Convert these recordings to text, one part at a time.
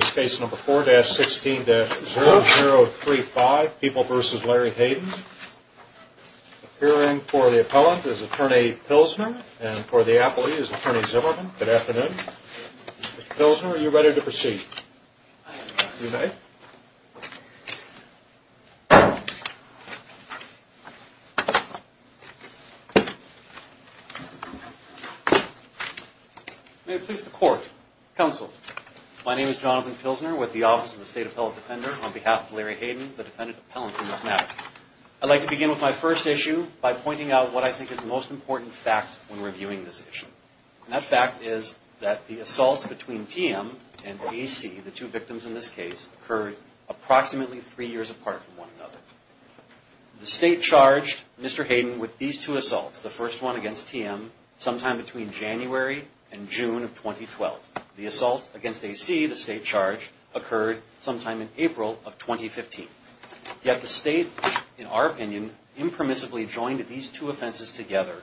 Appearing for the appellant is attorney Pilsner and for the appellee is attorney Zimmerman. Good afternoon. Mr. Pilsner, are you ready to proceed? May it please the court. Counsel, my name is Jonathan Pilsner with the Office of the State Appellate Defender. On behalf of Larry Hayden, the defendant appellant in this matter, I'd like to begin with my first issue by pointing out what I think is the most important fact when reviewing this issue. And that fact is that the assaults between TM and AC, the two victims in this case, occurred approximately three years apart from one another. The state charged Mr. Hayden with these two assaults, the first one against TM, sometime between January and June of 2012. The assault against AC, the state charge, occurred sometime in April of 2015. Yet the state, in our opinion, impermissibly joined these two offenses together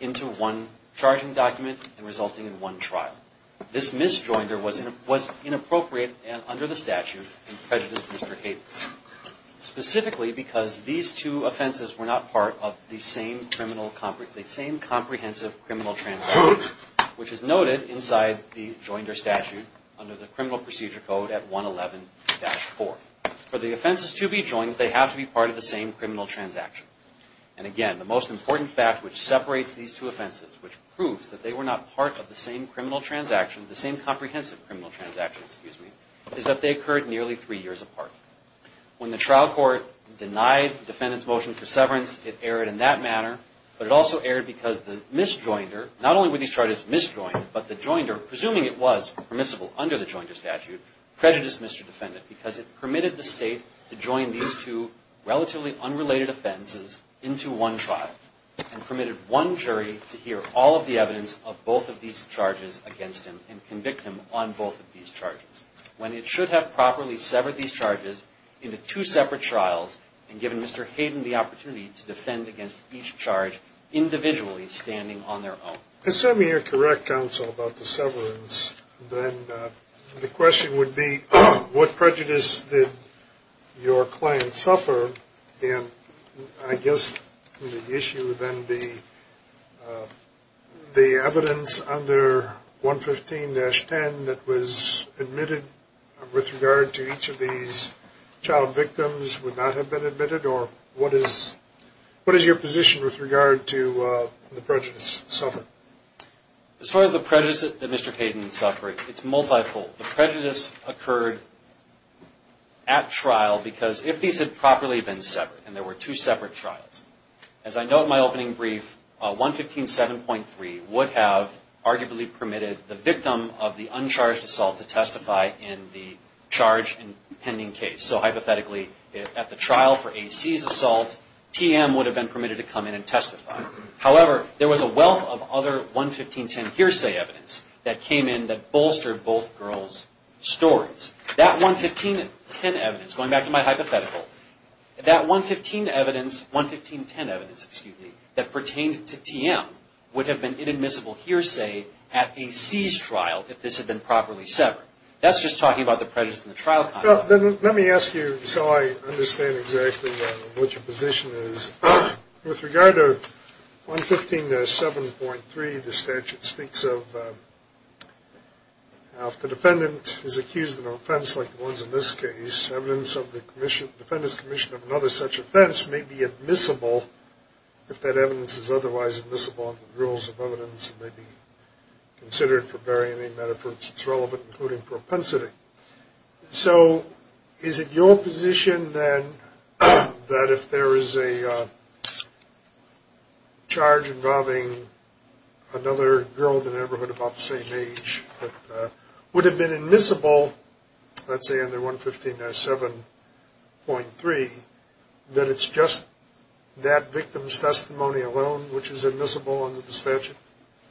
into one charging document and resulting in one trial. This mis-joinder was inappropriate and under the statute and prejudiced Mr. Hayden. Specifically because these two offenses were not part of the same comprehensive criminal transaction, which is noted inside the joinder statute under the criminal procedure code at 111-4. For the offenses to be joined, they have to be part of the same criminal transaction. And again, the most important fact which separates these two offenses, which proves that they were not part of the same criminal transaction, the same comprehensive criminal transaction, excuse me, is that they occurred nearly three years apart. When the trial court denied the defendant's motion for severance, it erred in that manner. But it also erred because the mis-joinder, not only were these charges mis-joined, but the joinder, presuming it was permissible under the joinder statute, prejudiced Mr. Defendant because it permitted the state to join these two relatively unrelated offenses into one trial and permitted one jury to hear all of the evidence of both of these charges against him and convict him on both of these charges. When it should have properly severed these charges into two separate trials and given Mr. Hayden the opportunity to defend against each charge individually standing on their own. Assuming you're correct, counsel, about the severance, then the question would be what prejudice did your client suffer? And I guess the issue would then be the evidence under 115-10 that was admitted with regard to each of these child victims would not have been admitted or what is your position with regard to the prejudice suffered? As far as the prejudice that Mr. Hayden suffered, it's multifold. The prejudice occurred at trial because if these had properly been severed and there were two separate trials, as I know in my opening brief, 115-7.3 would have arguably permitted the victim of the uncharged assault to testify in the charge pending case. So hypothetically at the trial for A.C.'s assault, T.M. would have been permitted to come in and testify. However, there was a wealth of other 115-10 hearsay evidence that came in that bolstered both girls' stories. That 115-10 evidence, going back to my hypothetical, that 115-10 evidence that pertained to T.M. would have been inadmissible hearsay at A.C.'s trial if this had been properly severed. That's just talking about the prejudice in the trial context. Well, then let me ask you so I understand exactly what your position is. With regard to 115-7.3, the statute speaks of if the defendant is accused of an offense like the ones in this case, evidence of the defendant's commission of another such offense may be admissible if that evidence is otherwise admissible under the rules of evidence and may be considered for bearing any metaphors that's relevant, including propensity. So is it your position then that if there is a charge involving another girl in the neighborhood about the same age that would have been admissible, let's say under 115-7.3, that it's just that victim's testimony alone which is admissible under the statute?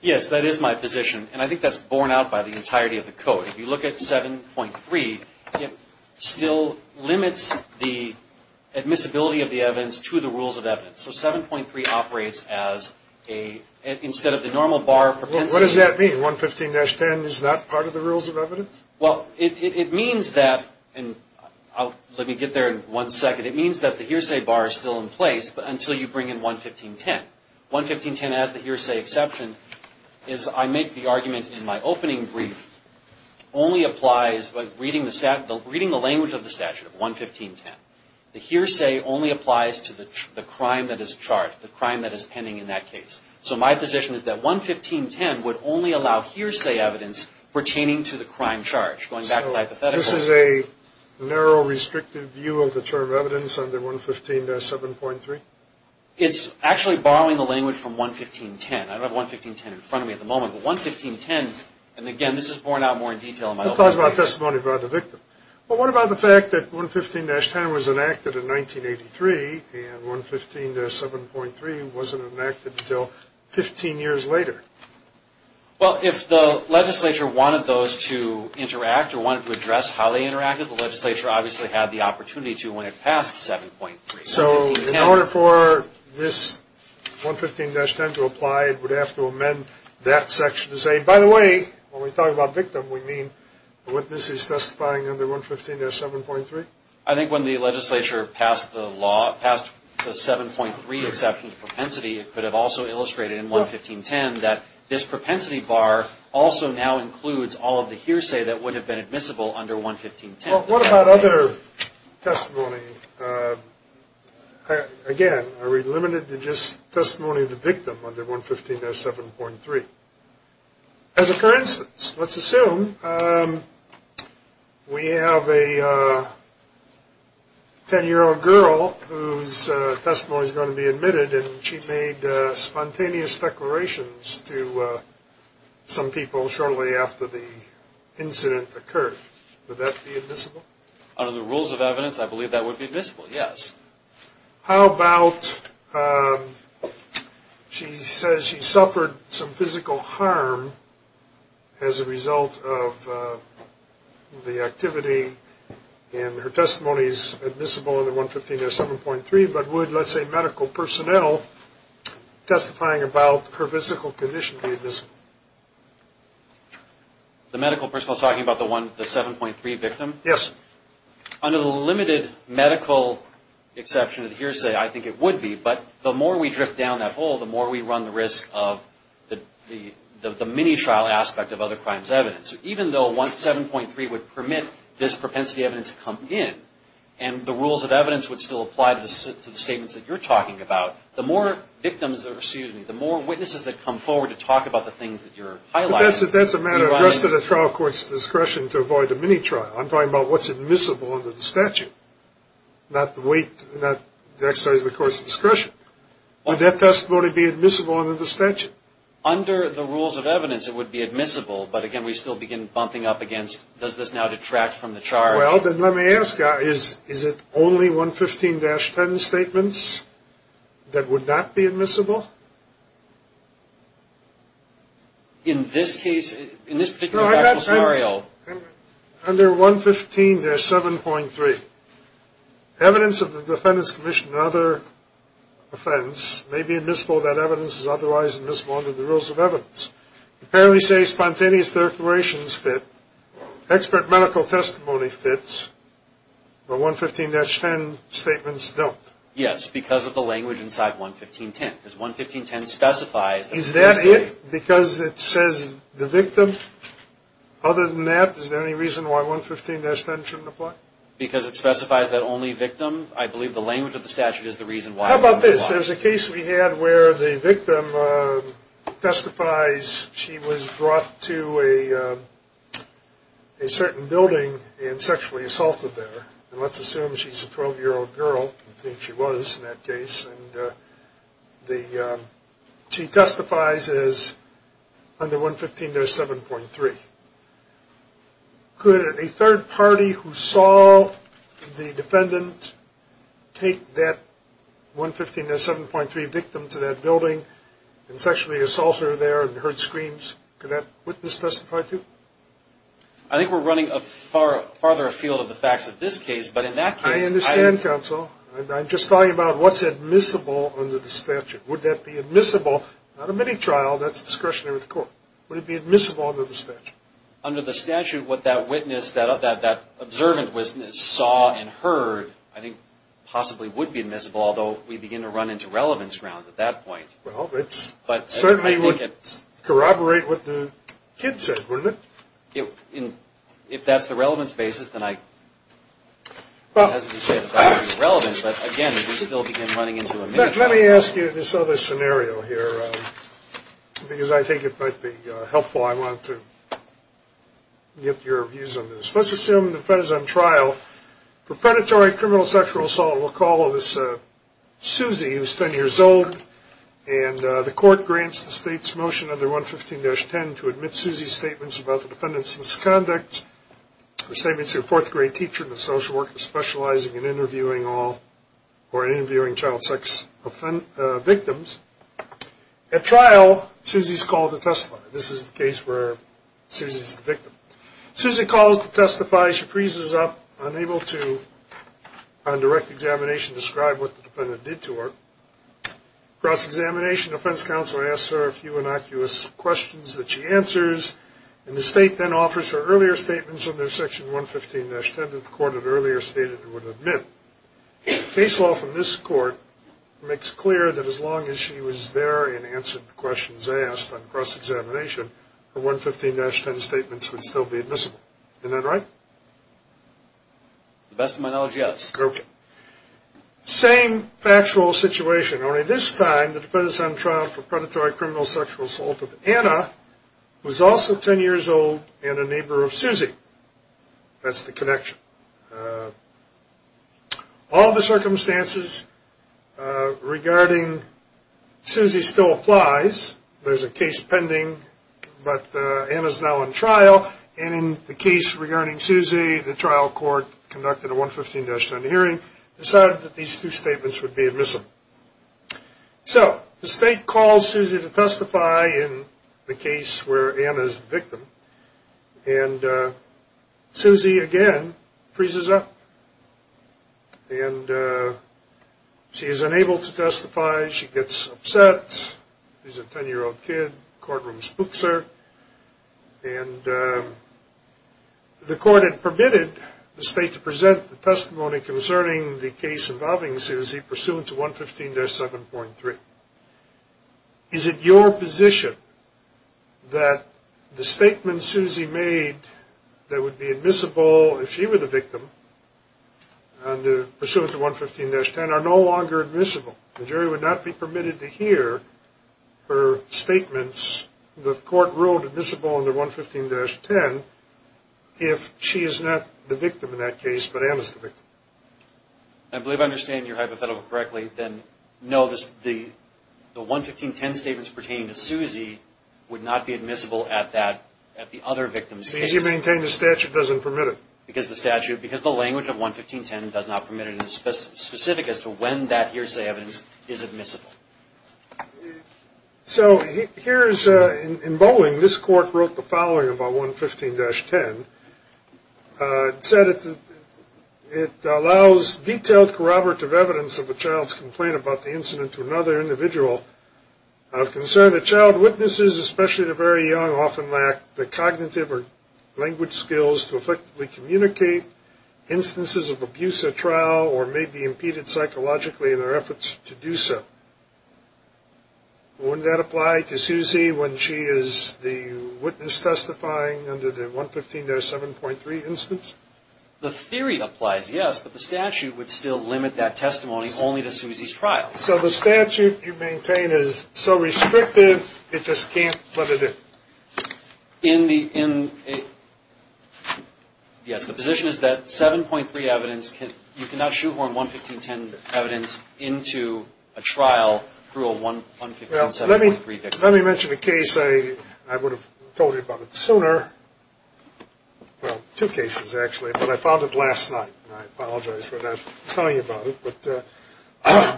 Yes, that is my position. And I think that's borne out by the entirety of the code. If you look at 7.3, it still limits the admissibility of the evidence to the rules of evidence. So 7.3 operates as a, instead of the normal bar of propensity. What does that mean? 115-10 is not part of the rules of evidence? Well, it means that, and let me get there in one second, it means that the hearsay bar is still in place until you bring in 115-10. 115-10 has the hearsay exception, is I make the argument in my opening brief only applies, reading the language of the statute, 115-10. The hearsay only applies to the crime that is charged, the crime that is pending in that case. So my position is that 115-10 would only allow hearsay evidence pertaining to the crime charge, going back to hypotheticals. So this is a narrow, restrictive view of the term evidence under 115-7.3? It's actually borrowing the language from 115-10. I don't have 115-10 in front of me at the moment, but 115-10, and again, this is borne out more in detail in my opening brief. Well, what about the fact that 115-10 was enacted in 1983, and 115-7.3 wasn't enacted until 15 years later? Well, if the legislature wanted those to interact, or wanted to address how they interacted, the legislature obviously had the opportunity to when it passed 7.3. So in order for this 115-10 to apply, it would have to amend that section to say, by the way, when we talk about victim, we mean the witness is testifying under 115-7.3? I think when the legislature passed the law, passed the 7.3 exception to propensity, it could have also illustrated in 115-10 that this propensity bar also now includes all of the hearsay that would have been admissible under 115-10. Well, what about other testimony? Again, are we limited to just testimony of the victim under 115-7.3? As a current instance, let's assume we have a 10-year-old girl whose testimony is going to be admitted, and she made spontaneous declarations to some people shortly after the incident occurred. Would that be admissible? Under the rules of evidence, I believe that would be admissible, yes. How about she says she suffered some physical harm as a result of the activity, and her testimony is admissible under 115-7.3, but would, let's say, medical personnel testifying about her physical condition be admissible? The medical personnel talking about the 7.3 victim? Yes. Under the limited medical exception of the hearsay, I think it would be, but the more we drift down that hole, the more we run the risk of the mini-trial aspect of other crimes evidence. Even though 1-7.3 would permit this propensity evidence to come in, and the rules of evidence would still apply to the statements that you're talking about, the more witnesses that come forward to talk about the things that you're highlighting... Under the rules of evidence, it would be admissible, but again, we still begin bumping up against, does this now detract from the charge? Well, then let me ask, is it only 115-10 statements that would not be admissible? In this case, in this particular actual scenario... 115-7.3. Evidence of the defendant's commission and other offense may be admissible, that evidence is otherwise admissible under the rules of evidence. Apparently say spontaneous declarations fit, expert medical testimony fits, but 115-10 statements don't. Yes, because of the language inside 115-10, because 115-10 specifies... Is that it? Because it says the victim? Other than that, is there any reason why 115-10 shouldn't apply? Because it specifies that only victim? I believe the language of the statute is the reason why. How about this? There's a case we had where the victim testifies she was brought to a certain building and sexually assaulted there. And let's assume she's a 12-year-old girl, I think she was in that case, and she testifies as under 115-7.3. Could a third party who saw the defendant take that 115-7.3 victim to that building and sexually assault her there and heard screams, could that witness testify too? I think we're running farther afield of the facts of this case, but in that case... I understand, counsel. I'm just talking about what's admissible under the statute. Would that be admissible? Not a mini-trial, that's discretionary with the court. Would it be admissible under the statute? Under the statute, what that witness, that observant witness saw and heard, I think possibly would be admissible, although we begin to run into relevance grounds at that point. Well, it certainly would corroborate what the kid said, wouldn't it? If that's the relevance basis, then I... Well... It hasn't been said that that would be relevant, but again, we still begin running into a mini-trial. Let me ask you this other scenario here, because I think it might be helpful. I want to get your views on this. Let's assume the defendant is on trial for predatory criminal sexual assault. We'll call this Suzy, who's 10 years old. And the court grants the state's motion under 115-10 to admit Suzy's statements about the defendant's misconduct, her statements to a fourth-grade teacher and a social worker specializing in interviewing child sex victims. At trial, Suzy's called to testify. This is the case where Suzy's the victim. Suzy calls to testify. She freezes up, unable to, on direct examination, describe what the defendant did to her. Cross-examination, the defense counsel asks her a few innocuous questions that she answers, and the state then offers her earlier statements under section 115-10 that the court had earlier stated it would admit. Case law from this court makes clear that as long as she was there and answered the questions asked on cross-examination, her 115-10 statements would still be admissible. Isn't that right? The best of my knowledge, yes. Okay. Same factual situation, only this time the defendant's on trial for predatory criminal sexual assault with Anna, who's also 10 years old, and a neighbor of Suzy. That's the connection. All the circumstances regarding Suzy still applies. There's a case pending, but Anna's now on trial. And in the case regarding Suzy, the trial court conducted a 115-10 hearing, decided that these two statements would be admissible. So the state calls Suzy to testify in the case where Anna's the victim, and Suzy, again, freezes up. And she is unable to testify. She gets upset. She's a 10-year-old kid, courtroom spooks her. And the court had permitted the state to present the testimony concerning the case involving Suzy pursuant to 115-7.3. Is it your position that the statements Suzy made that would be admissible if she were the victim, pursuant to 115-10, are no longer admissible? The jury would not be permitted to hear her statements. The court ruled admissible under 115-10 if she is not the victim in that case, but Anna's the victim. I believe I understand your hypothetical correctly, then. No, the 115-10 statements pertaining to Suzy would not be admissible at the other victim's case. So you maintain the statute doesn't permit it? Because the statute, because the language of 115-10 does not permit it. It's specific as to when that hearsay evidence is admissible. So here is, in bowling, this court wrote the following about 115-10. It said it allows detailed corroborative evidence of a child's complaint about the incident to another individual. Of concern, the child witnesses, especially the very young, often lack the cognitive or language skills to effectively communicate instances of abuse at trial or may be impeded psychologically in their efforts to do so. Wouldn't that apply to Suzy when she is the witness testifying under the 115-7.3 instance? The theory applies, yes, but the statute would still limit that testimony only to Suzy's trial. So the statute you maintain is so restrictive it just can't let it in? Yes, the position is that 7.3 evidence, you cannot shoehorn 115-10 evidence into a trial through a 115-7.3 victim. Let me mention a case. I would have told you about it sooner. Well, two cases, actually, but I found it last night, and I apologize for not telling you about it.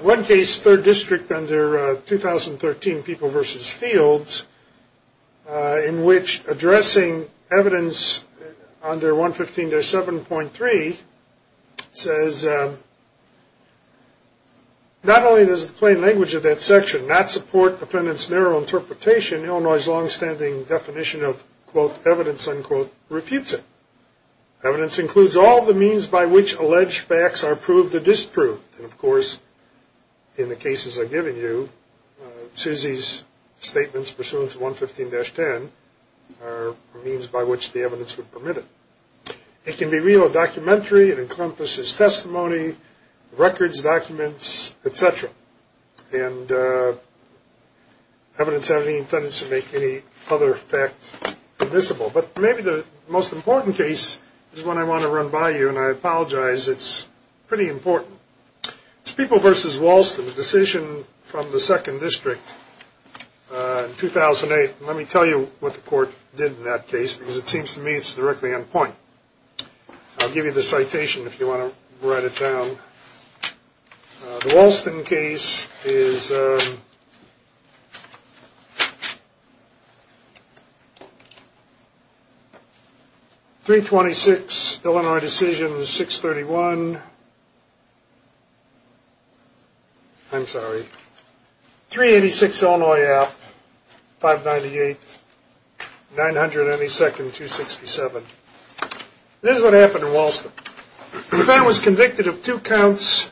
One case, 3rd District under 2013 People vs. Fields, in which addressing evidence under 115-7.3 says, not only does the plain language of that section not support defendant's narrow interpretation, Illinois' longstanding definition of, quote, evidence, unquote, refutes it. Evidence includes all the means by which alleged facts are proved or disproved. And, of course, in the cases I've given you, Suzy's statements pursuant to 115-10 are means by which the evidence would permit it. It can be real or documentary. It encompasses testimony, records, documents, et cetera. And evidence has any intent to make any other fact admissible. But maybe the most important case is one I want to run by you, and I apologize. It's pretty important. It's People vs. Walston, a decision from the 2nd District in 2008. Let me tell you what the court did in that case, because it seems to me it's directly on point. I'll give you the citation if you want to write it down. The Walston case is 326 Illinois Decisions, 631. I'm sorry, 386 Illinois Act, 598, 900 any second, 267. This is what happened in Walston. The defendant was convicted of two counts.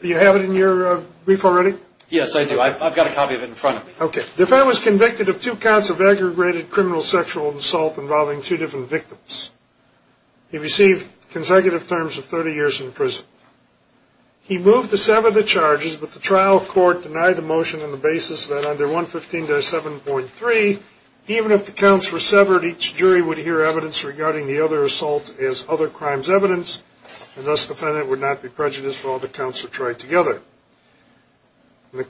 Do you have it in your brief already? Yes, I do. I've got a copy of it in front of me. Okay. The defendant was convicted of two counts of aggregated criminal sexual assault involving two different victims. He received consecutive terms of 30 years in prison. He moved to sever the charges, but the trial court denied the motion on the basis that under 115-7.3, even if the counts were severed, each jury would hear evidence regarding the other assault as other crimes evidence, and thus the defendant would not be prejudiced while the counts were tried together. The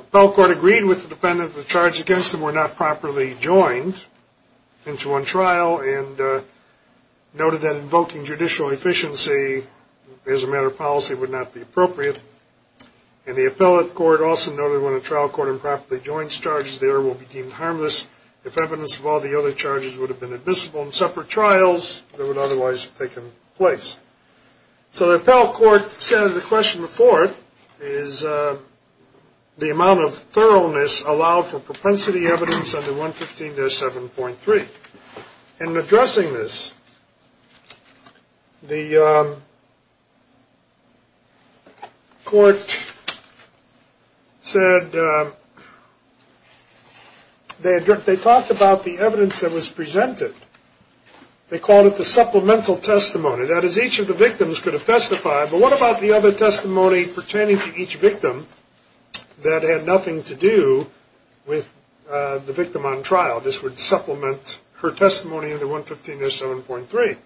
appellate court agreed with the defendant that the charges against him were not properly joined into one trial and noted that invoking judicial efficiency as a matter of policy would not be appropriate. And the appellate court also noted when a trial court improperly joins charges, the error will be deemed harmless if evidence of all the other charges would have been admissible in separate trials that would otherwise have taken place. So the appellate court said the question before it is the amount of thoroughness allowed for propensity evidence under 115-7.3. In addressing this, the court said they talked about the evidence that was presented. They called it the supplemental testimony. That is, each of the victims could have testified, but what about the other testimony pertaining to each victim that had nothing to do with the victim on trial? This would supplement her testimony under 115-7.3.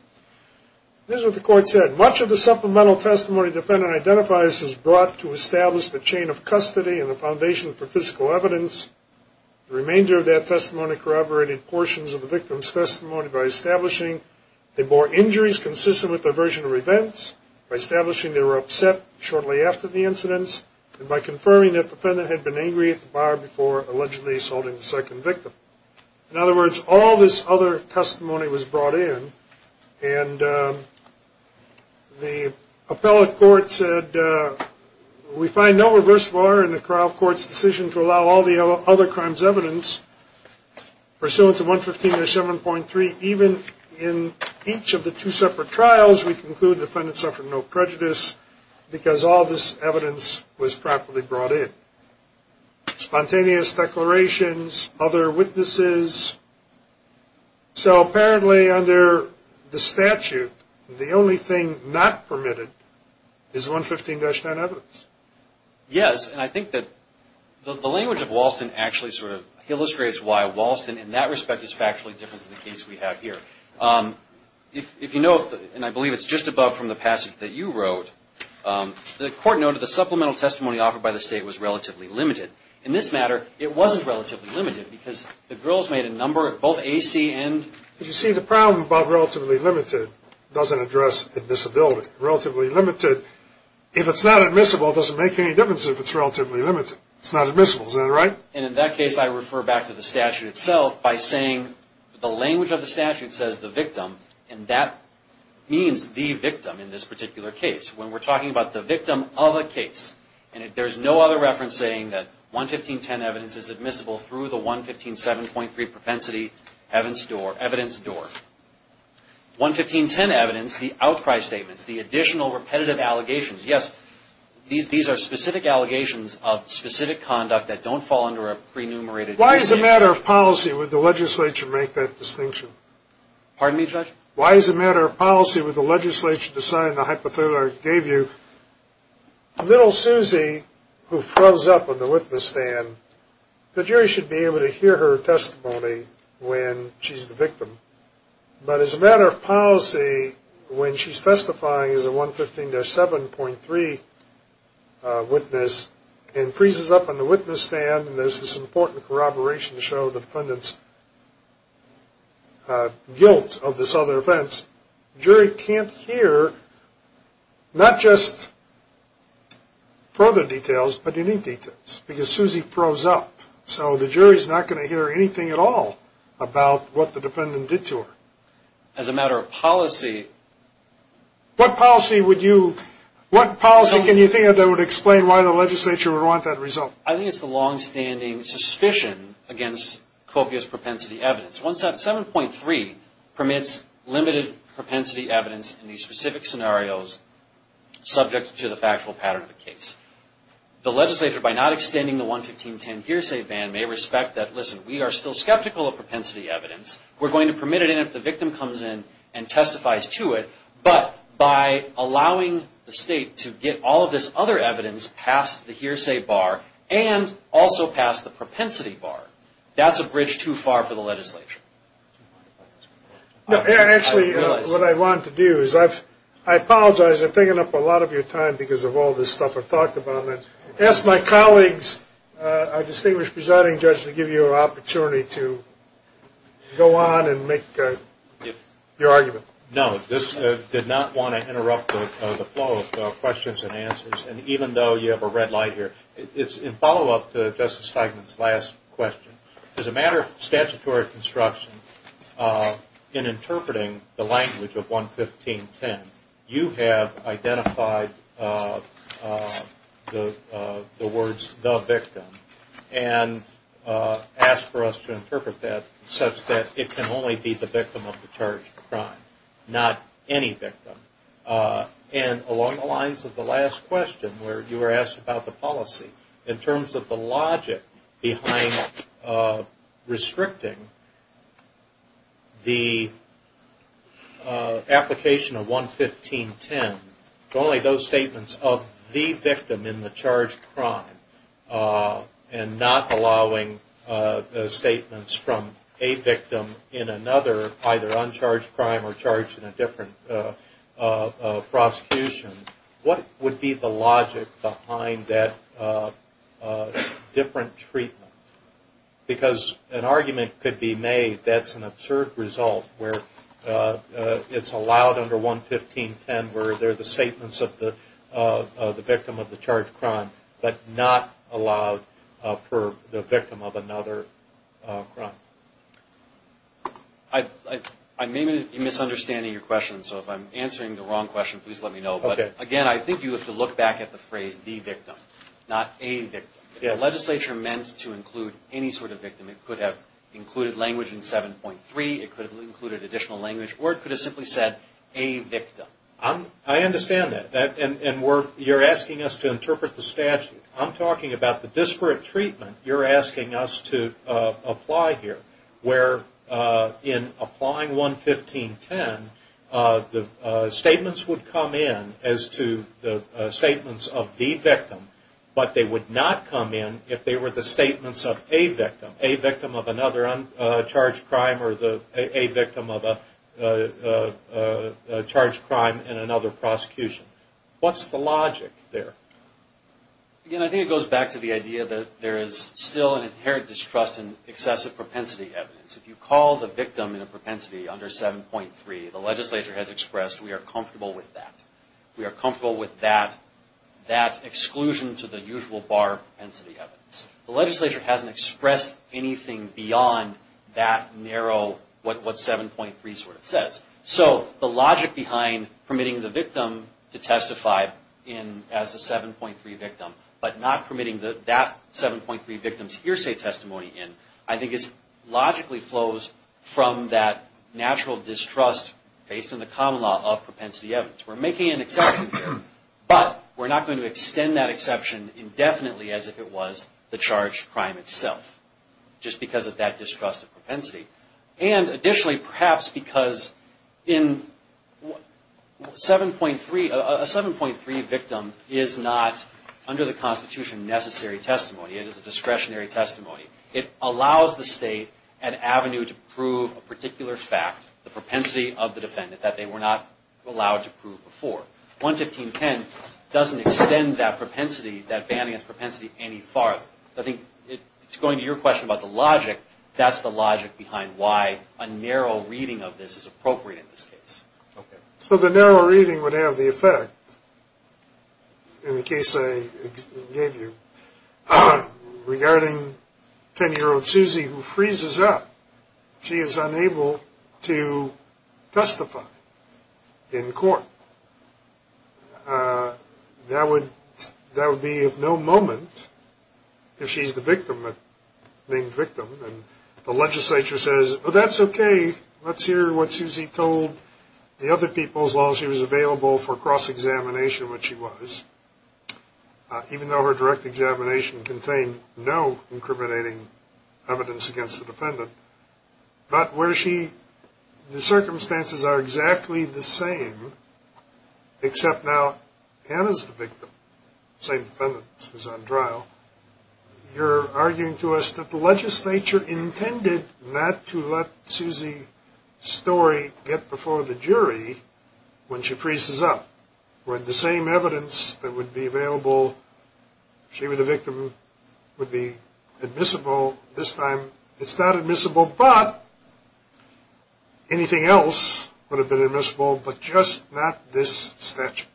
This is what the court said. Much of the supplemental testimony the defendant identifies is brought to establish the chain of custody and the foundation for physical evidence. The remainder of that testimony corroborated portions of the victim's testimony by establishing they bore injuries consistent with their version of events, by establishing they were upset shortly after the incidents, and by confirming that the defendant had been angry at the buyer before allegedly assaulting the second victim. In other words, all this other testimony was brought in, and the appellate court said we find no reverse bar in the trial court's decision to allow all the other crimes' evidence. Pursuant to 115-7.3, even in each of the two separate trials, we conclude the defendant suffered no prejudice because all this evidence was properly brought in. Spontaneous declarations, other witnesses. So apparently under the statute, the only thing not permitted is 115-9 evidence. Yes, and I think that the language of Walston actually sort of illustrates why Walston, in that respect, is factually different from the case we have here. If you note, and I believe it's just above from the passage that you wrote, the court noted the supplemental testimony offered by the state was relatively limited. In this matter, it wasn't relatively limited because the girls made a number of both AC and... You see, the problem about relatively limited doesn't address admissibility. Relatively limited, if it's not admissible, doesn't make any difference if it's relatively limited. It's not admissible, is that right? And in that case, I refer back to the statute itself by saying the language of the statute says the victim, and that means the victim in this particular case. When we're talking about the victim of a case, and there's no other reference saying that 115-10 evidence is admissible through the 115-7.3 propensity evidence door. 115-10 evidence, the outcry statements, the additional repetitive allegations, yes, these are specific allegations of specific conduct that don't fall under a pre-numerated... Why as a matter of policy would the legislature make that distinction? Pardon me, Judge? Why as a matter of policy would the legislature decide the hypothetical I gave you? Little Susie, who froze up on the witness stand, the jury should be able to hear her testimony when she's the victim. But as a matter of policy, when she's testifying as a 115-7.3 witness, and freezes up on the witness stand, and there's this important corroboration to show the defendant's guilt of this other offense, the jury can't hear not just further details, but unique details, because Susie froze up. So the jury's not going to hear anything at all about what the defendant did to her. As a matter of policy... What policy would you... What policy can you think of that would explain why the legislature would want that result? I think it's the longstanding suspicion against copious propensity evidence. 1-7.3 permits limited propensity evidence in these specific scenarios, subject to the factual pattern of the case. The legislature, by not extending the 115-10 hearsay ban, may respect that, listen, we are still skeptical of propensity evidence. We're going to permit it in if the victim comes in and testifies to it. But by allowing the state to get all of this other evidence past the hearsay bar, and also past the propensity bar, that's a bridge too far for the legislature. Actually, what I want to do is I apologize. I'm taking up a lot of your time because of all this stuff I've talked about, and ask my colleagues, our distinguished presiding judge, to give you an opportunity to go on and make your argument. No, this did not want to interrupt the flow of questions and answers, and even though you have a red light here, in follow-up to Justice Steigman's last question, as a matter of statutory construction, in interpreting the language of 115-10, you have identified the words, the victim, and asked for us to interpret that such that it can only be the victim of the charged crime, not any victim. And along the lines of the last question, where you were asked about the policy, in terms of the logic behind restricting the application of 115-10 to only those statements of the victim in the charged crime, and not allowing statements from a victim in another, either uncharged crime or charged in a different prosecution, what would be the logic behind that different treatment? Because an argument could be made that's an absurd result, where it's allowed under 115-10 where they're the statements of the victim of the charged crime, but not allowed for the victim of another crime. I may be misunderstanding your question, so if I'm answering the wrong question, please let me know. Again, I think you have to look back at the phrase, the victim, not a victim. The legislature meant to include any sort of victim. It could have included language in 7.3, it could have included additional language, or it could have simply said, a victim. I understand that, and you're asking us to interpret the statute. I'm talking about the disparate treatment you're asking us to apply here, where in applying 115-10, the statements would come in as to the statements of the victim, but they would not come in if they were the statements of a victim, a victim of another uncharged crime or a victim of a charged crime in another prosecution. What's the logic there? Again, I think it goes back to the idea that there is still an inherent distrust in excessive propensity evidence. If you call the victim in a propensity under 7.3, the legislature has expressed, we are comfortable with that. We are comfortable with that exclusion to the usual bar propensity evidence. The legislature hasn't expressed anything beyond that narrow, what 7.3 sort of says. The logic behind permitting the victim to testify as a 7.3 victim, but not permitting that 7.3 victim's hearsay testimony in, I think logically flows from that natural distrust based on the common law of propensity evidence. We're making an exception here, but we're not going to extend that exception indefinitely as if it was the charged crime itself, just because of that distrust of propensity. Additionally, perhaps because a 7.3 victim is not under the Constitution necessary testimony. It is a discretionary testimony. It allows the state an avenue to prove a particular fact, the propensity of the defendant that they were not allowed to prove before. 11510 doesn't extend that banning of propensity any farther. I think it's going to your question about the logic. That's the logic behind why a narrow reading of this is appropriate in this case. So the narrow reading would have the effect, in the case I gave you, regarding 10-year-old Susie who freezes up. She is unable to testify in court. That would be of no moment if she's the victim, the named victim, and the legislature says, oh, that's okay, let's hear what Susie told the other people as long as she was available for cross-examination, which she was, even though her direct examination contained no incriminating evidence against the defendant. But where she, the circumstances are exactly the same, except now Anna's the victim, the same defendant who's on trial. You're arguing to us that the legislature intended not to let Susie's story get before the jury when she freezes up, when the same evidence that would be available, she were the victim, would be admissible. So this time it's not admissible, but anything else would have been admissible, but just not this statute.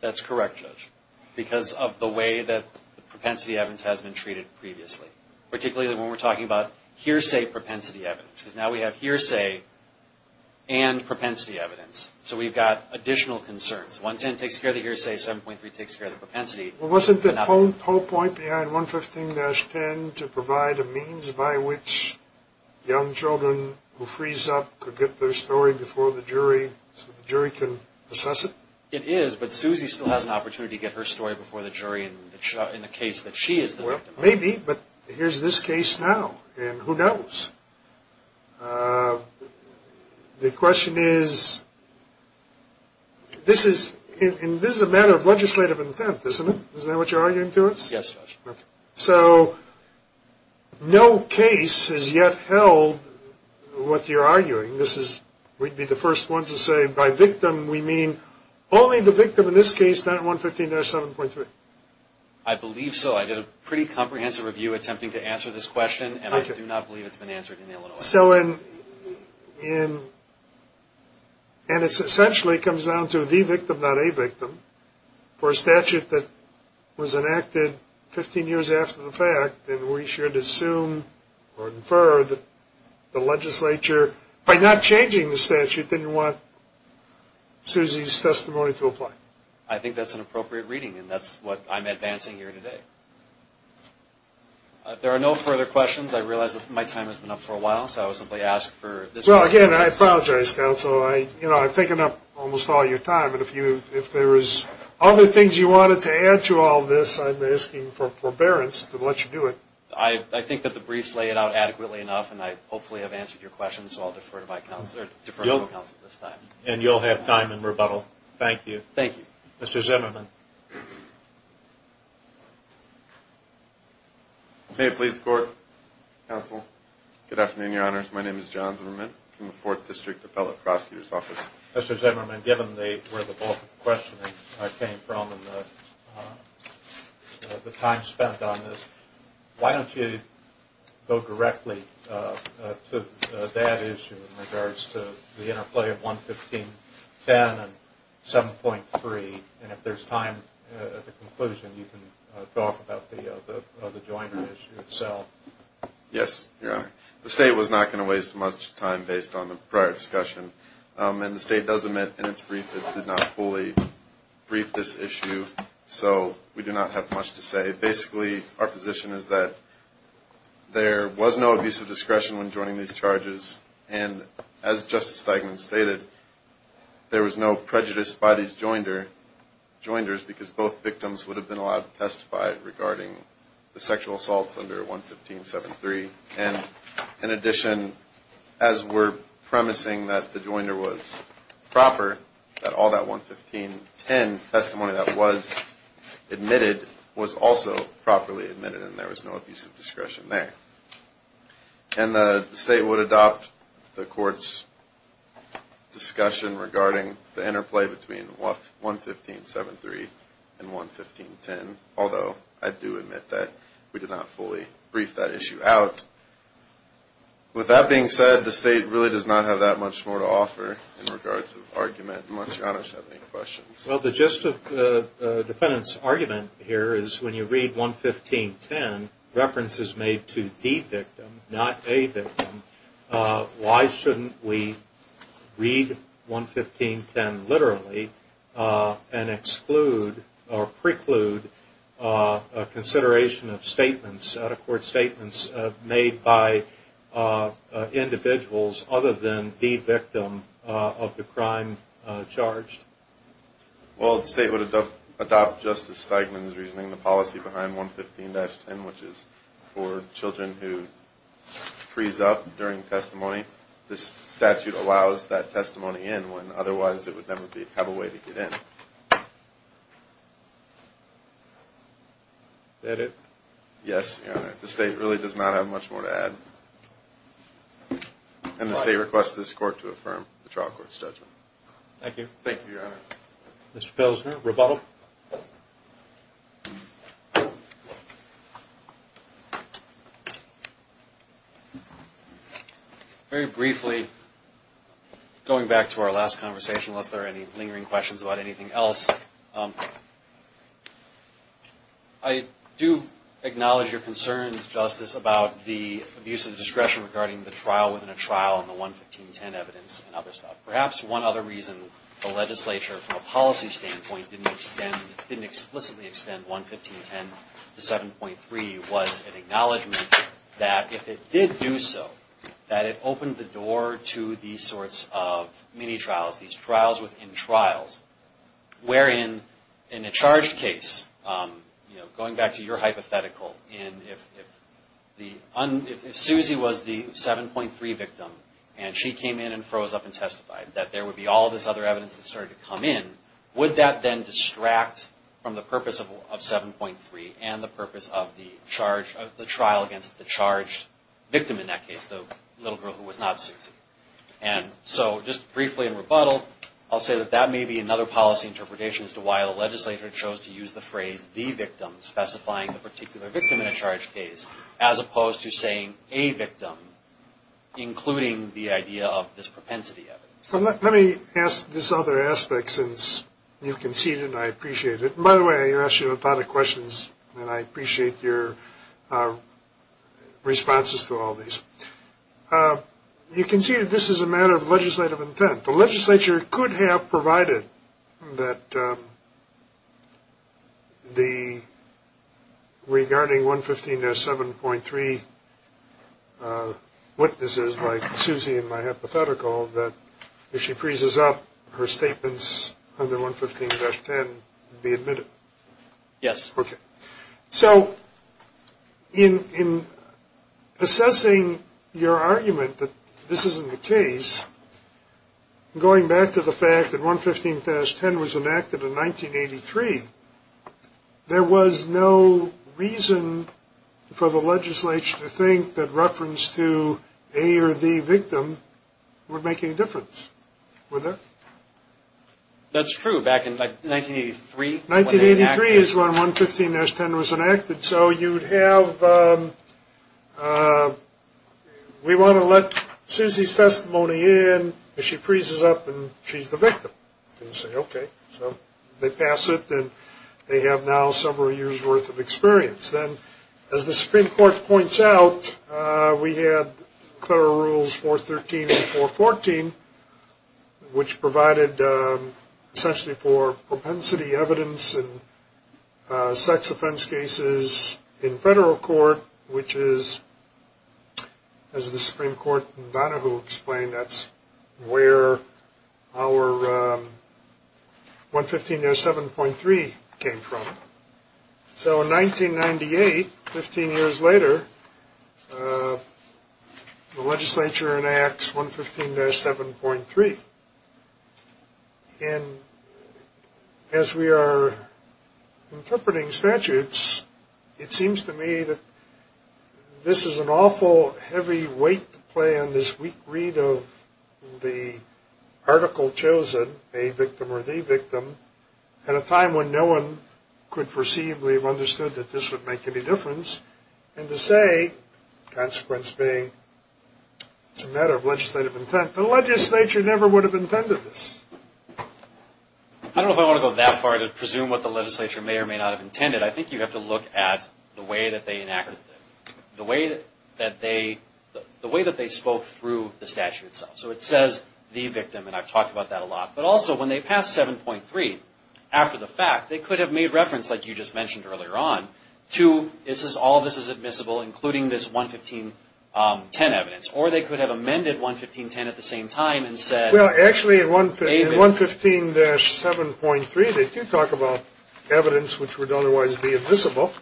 That's correct, Judge, because of the way that the propensity evidence has been treated previously, particularly when we're talking about hearsay propensity evidence, because now we have hearsay and propensity evidence, so we've got additional concerns. 110 takes care of the hearsay, 7.3 takes care of the propensity. Well, wasn't the whole point behind 115-10 to provide a means by which young children who freeze up could get their story before the jury so the jury can assess it? It is, but Susie still has an opportunity to get her story before the jury in the case that she is the victim. Well, maybe, but here's this case now, and who knows? The question is, this is a matter of legislative intent, isn't it? Isn't that what you're arguing to us? Yes, Judge. So no case has yet held what you're arguing. We'd be the first ones to say by victim we mean only the victim in this case, not 115-7.3. I believe so. I did a pretty comprehensive review attempting to answer this question, and I do not believe it's been answered in Illinois. And it essentially comes down to the victim, not a victim, for a statute that was enacted 15 years after the fact, and we should assume or infer that the legislature, by not changing the statute, didn't want Susie's testimony to apply. I think that's an appropriate reading, and that's what I'm advancing here today. If there are no further questions, I realize that my time has been up for a while, so I will simply ask for this motion to pass. Well, again, I apologize, counsel. I've taken up almost all your time, and if there is other things you wanted to add to all this, I'm asking for forbearance to let you do it. I think that the briefs lay it out adequately enough, and I hopefully have answered your question, so I'll defer to counsel at this time. And you'll have time in rebuttal. Thank you. Thank you. Mr. Zimmerman. May it please the Court, counsel. Good afternoon, Your Honors. My name is John Zimmerman from the Fourth District Appellate Prosecutor's Office. Mr. Zimmerman, given where the bulk of the questioning came from and the time spent on this, why don't you go directly to that issue in regards to the interplay of 115.10 and 7.3, and if there's time at the conclusion, you can talk about the Joyner issue itself. Yes, Your Honor. The State was not going to waste much time based on the prior discussion, and the State does admit in its brief it did not fully brief this issue, so we do not have much to say. Basically, our position is that there was no abusive discretion when joining these charges, and as Justice Steigman stated, there was no prejudice by these Joyners because both victims would have been allowed to testify regarding the sexual assaults under 115.7.3. And in addition, as we're promising that the Joyner was proper, that all that 115.10 testimony that was admitted was also properly admitted, and there was no abusive discretion there. And the State would adopt the Court's discussion regarding the interplay between 115.7.3 and 115.10, although I do admit that we did not fully brief that issue out. With that being said, the State really does not have that much more to offer in regards to the argument, unless Your Honor has any questions. Well, the gist of the defendant's argument here is when you read 115.10, references made to the victim, not a victim, why shouldn't we read 115.10 literally and exclude or preclude a consideration of statements, out-of-court statements made by individuals other than the victim of the crime charged? Well, the State would adopt Justice Steigman's reasoning, the policy behind 115.10, which is for children who freeze up during testimony. This statute allows that testimony in when otherwise it would never have a way to get in. Is that it? Yes, Your Honor. The State really does not have much more to add. And the State requests this Court to affirm the trial court's judgment. Thank you. Thank you, Your Honor. Mr. Pilsner, rebuttal. Very briefly, going back to our last conversation, unless there are any lingering questions about anything else, I do acknowledge your concerns, Justice, about the abuse of discretion regarding the trial within a trial and the 115.10 evidence and other stuff. Perhaps one other reason the legislature, from a policy standpoint, didn't explicitly extend 115.10 to 7.3 was an acknowledgement that if it did do so, these trials within trials, wherein in a charged case, going back to your hypothetical, if Susie was the 7.3 victim and she came in and froze up and testified, that there would be all this other evidence that started to come in, would that then distract from the purpose of 7.3 and the purpose of the trial against the charged victim in that case, the little girl who was not Susie? And so just briefly in rebuttal, I'll say that that may be another policy interpretation as to why the legislature chose to use the phrase, the victim, specifying the particular victim in a charged case, as opposed to saying a victim, including the idea of this propensity evidence. Let me ask this other aspect, since you conceded and I appreciate it. By the way, I asked you a lot of questions, and I appreciate your responses to all these. You conceded this is a matter of legislative intent. The legislature could have provided that regarding 115-7.3 witnesses like Susie in my hypothetical, that if she freezes up, her statements under 115-10 would be admitted. Yes. Okay. So in assessing your argument that this isn't the case, going back to the fact that 115-10 was enacted in 1983, there was no reason for the legislature to think that reference to a or the victim would make any difference. Were there? That's true. 1983 is when 115-10 was enacted. So you'd have, we want to let Susie's testimony in. If she freezes up, then she's the victim. Okay. So they pass it, then they have now several years' worth of experience. As the Supreme Court points out, we had federal rules 413 and 414, which provided essentially for propensity evidence and sex offense cases in federal court, which is, as the Supreme Court in Donahue explained, that's where our 115-7.3 came from. So in 1998, 15 years later, the legislature enacts 115-7.3. And as we are interpreting statutes, it seems to me that this is an awful heavy weight to play on this weak read of the article chosen, a victim or the victim, at a time when no one could foreseeably have understood that this would make any difference, and to say, consequence being, it's a matter of legislative intent. The legislature never would have intended this. I don't know if I want to go that far to presume what the legislature may or may not have intended. I think you have to look at the way that they enacted it, the way that they spoke through the statute itself. So it says, the victim, and I've talked about that a lot. But also, when they passed 7.3, after the fact, they could have made reference, like you just mentioned earlier on, to this is all this is admissible, including this 115-10 evidence. Or they could have amended 115-10 at the same time and said, Well, actually, in 115-7.3, they do talk about evidence which would otherwise be admissible.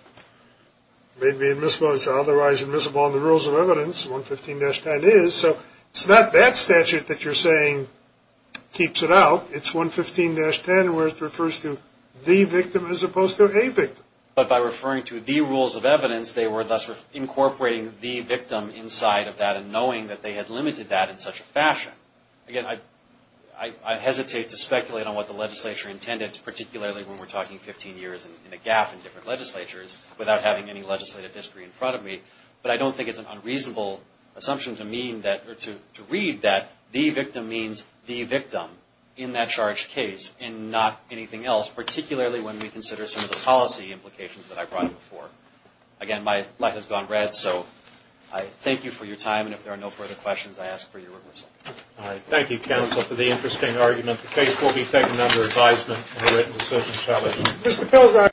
It may be admissible, it's otherwise admissible under the rules of evidence, 115-10 is. So it's not that statute that you're saying keeps it out. It's 115-10 where it refers to the victim as opposed to a victim. But by referring to the rules of evidence, they were thus incorporating the victim inside of that and knowing that they had limited that in such a fashion. Again, I hesitate to speculate on what the legislature intended, particularly when we're talking 15 years and a gap in different legislatures, without having any legislative history in front of me. But I don't think it's an unreasonable assumption to mean that, or to read that, the victim means the victim in that charged case and not anything else, particularly when we consider some of the policy implications that I brought up before. Again, my life has gone red, so I thank you for your time. And if there are no further questions, I ask for your reversal. All right. Thank you, counsel, for the interesting argument. The case will be taken under advisement and written to certain establishment.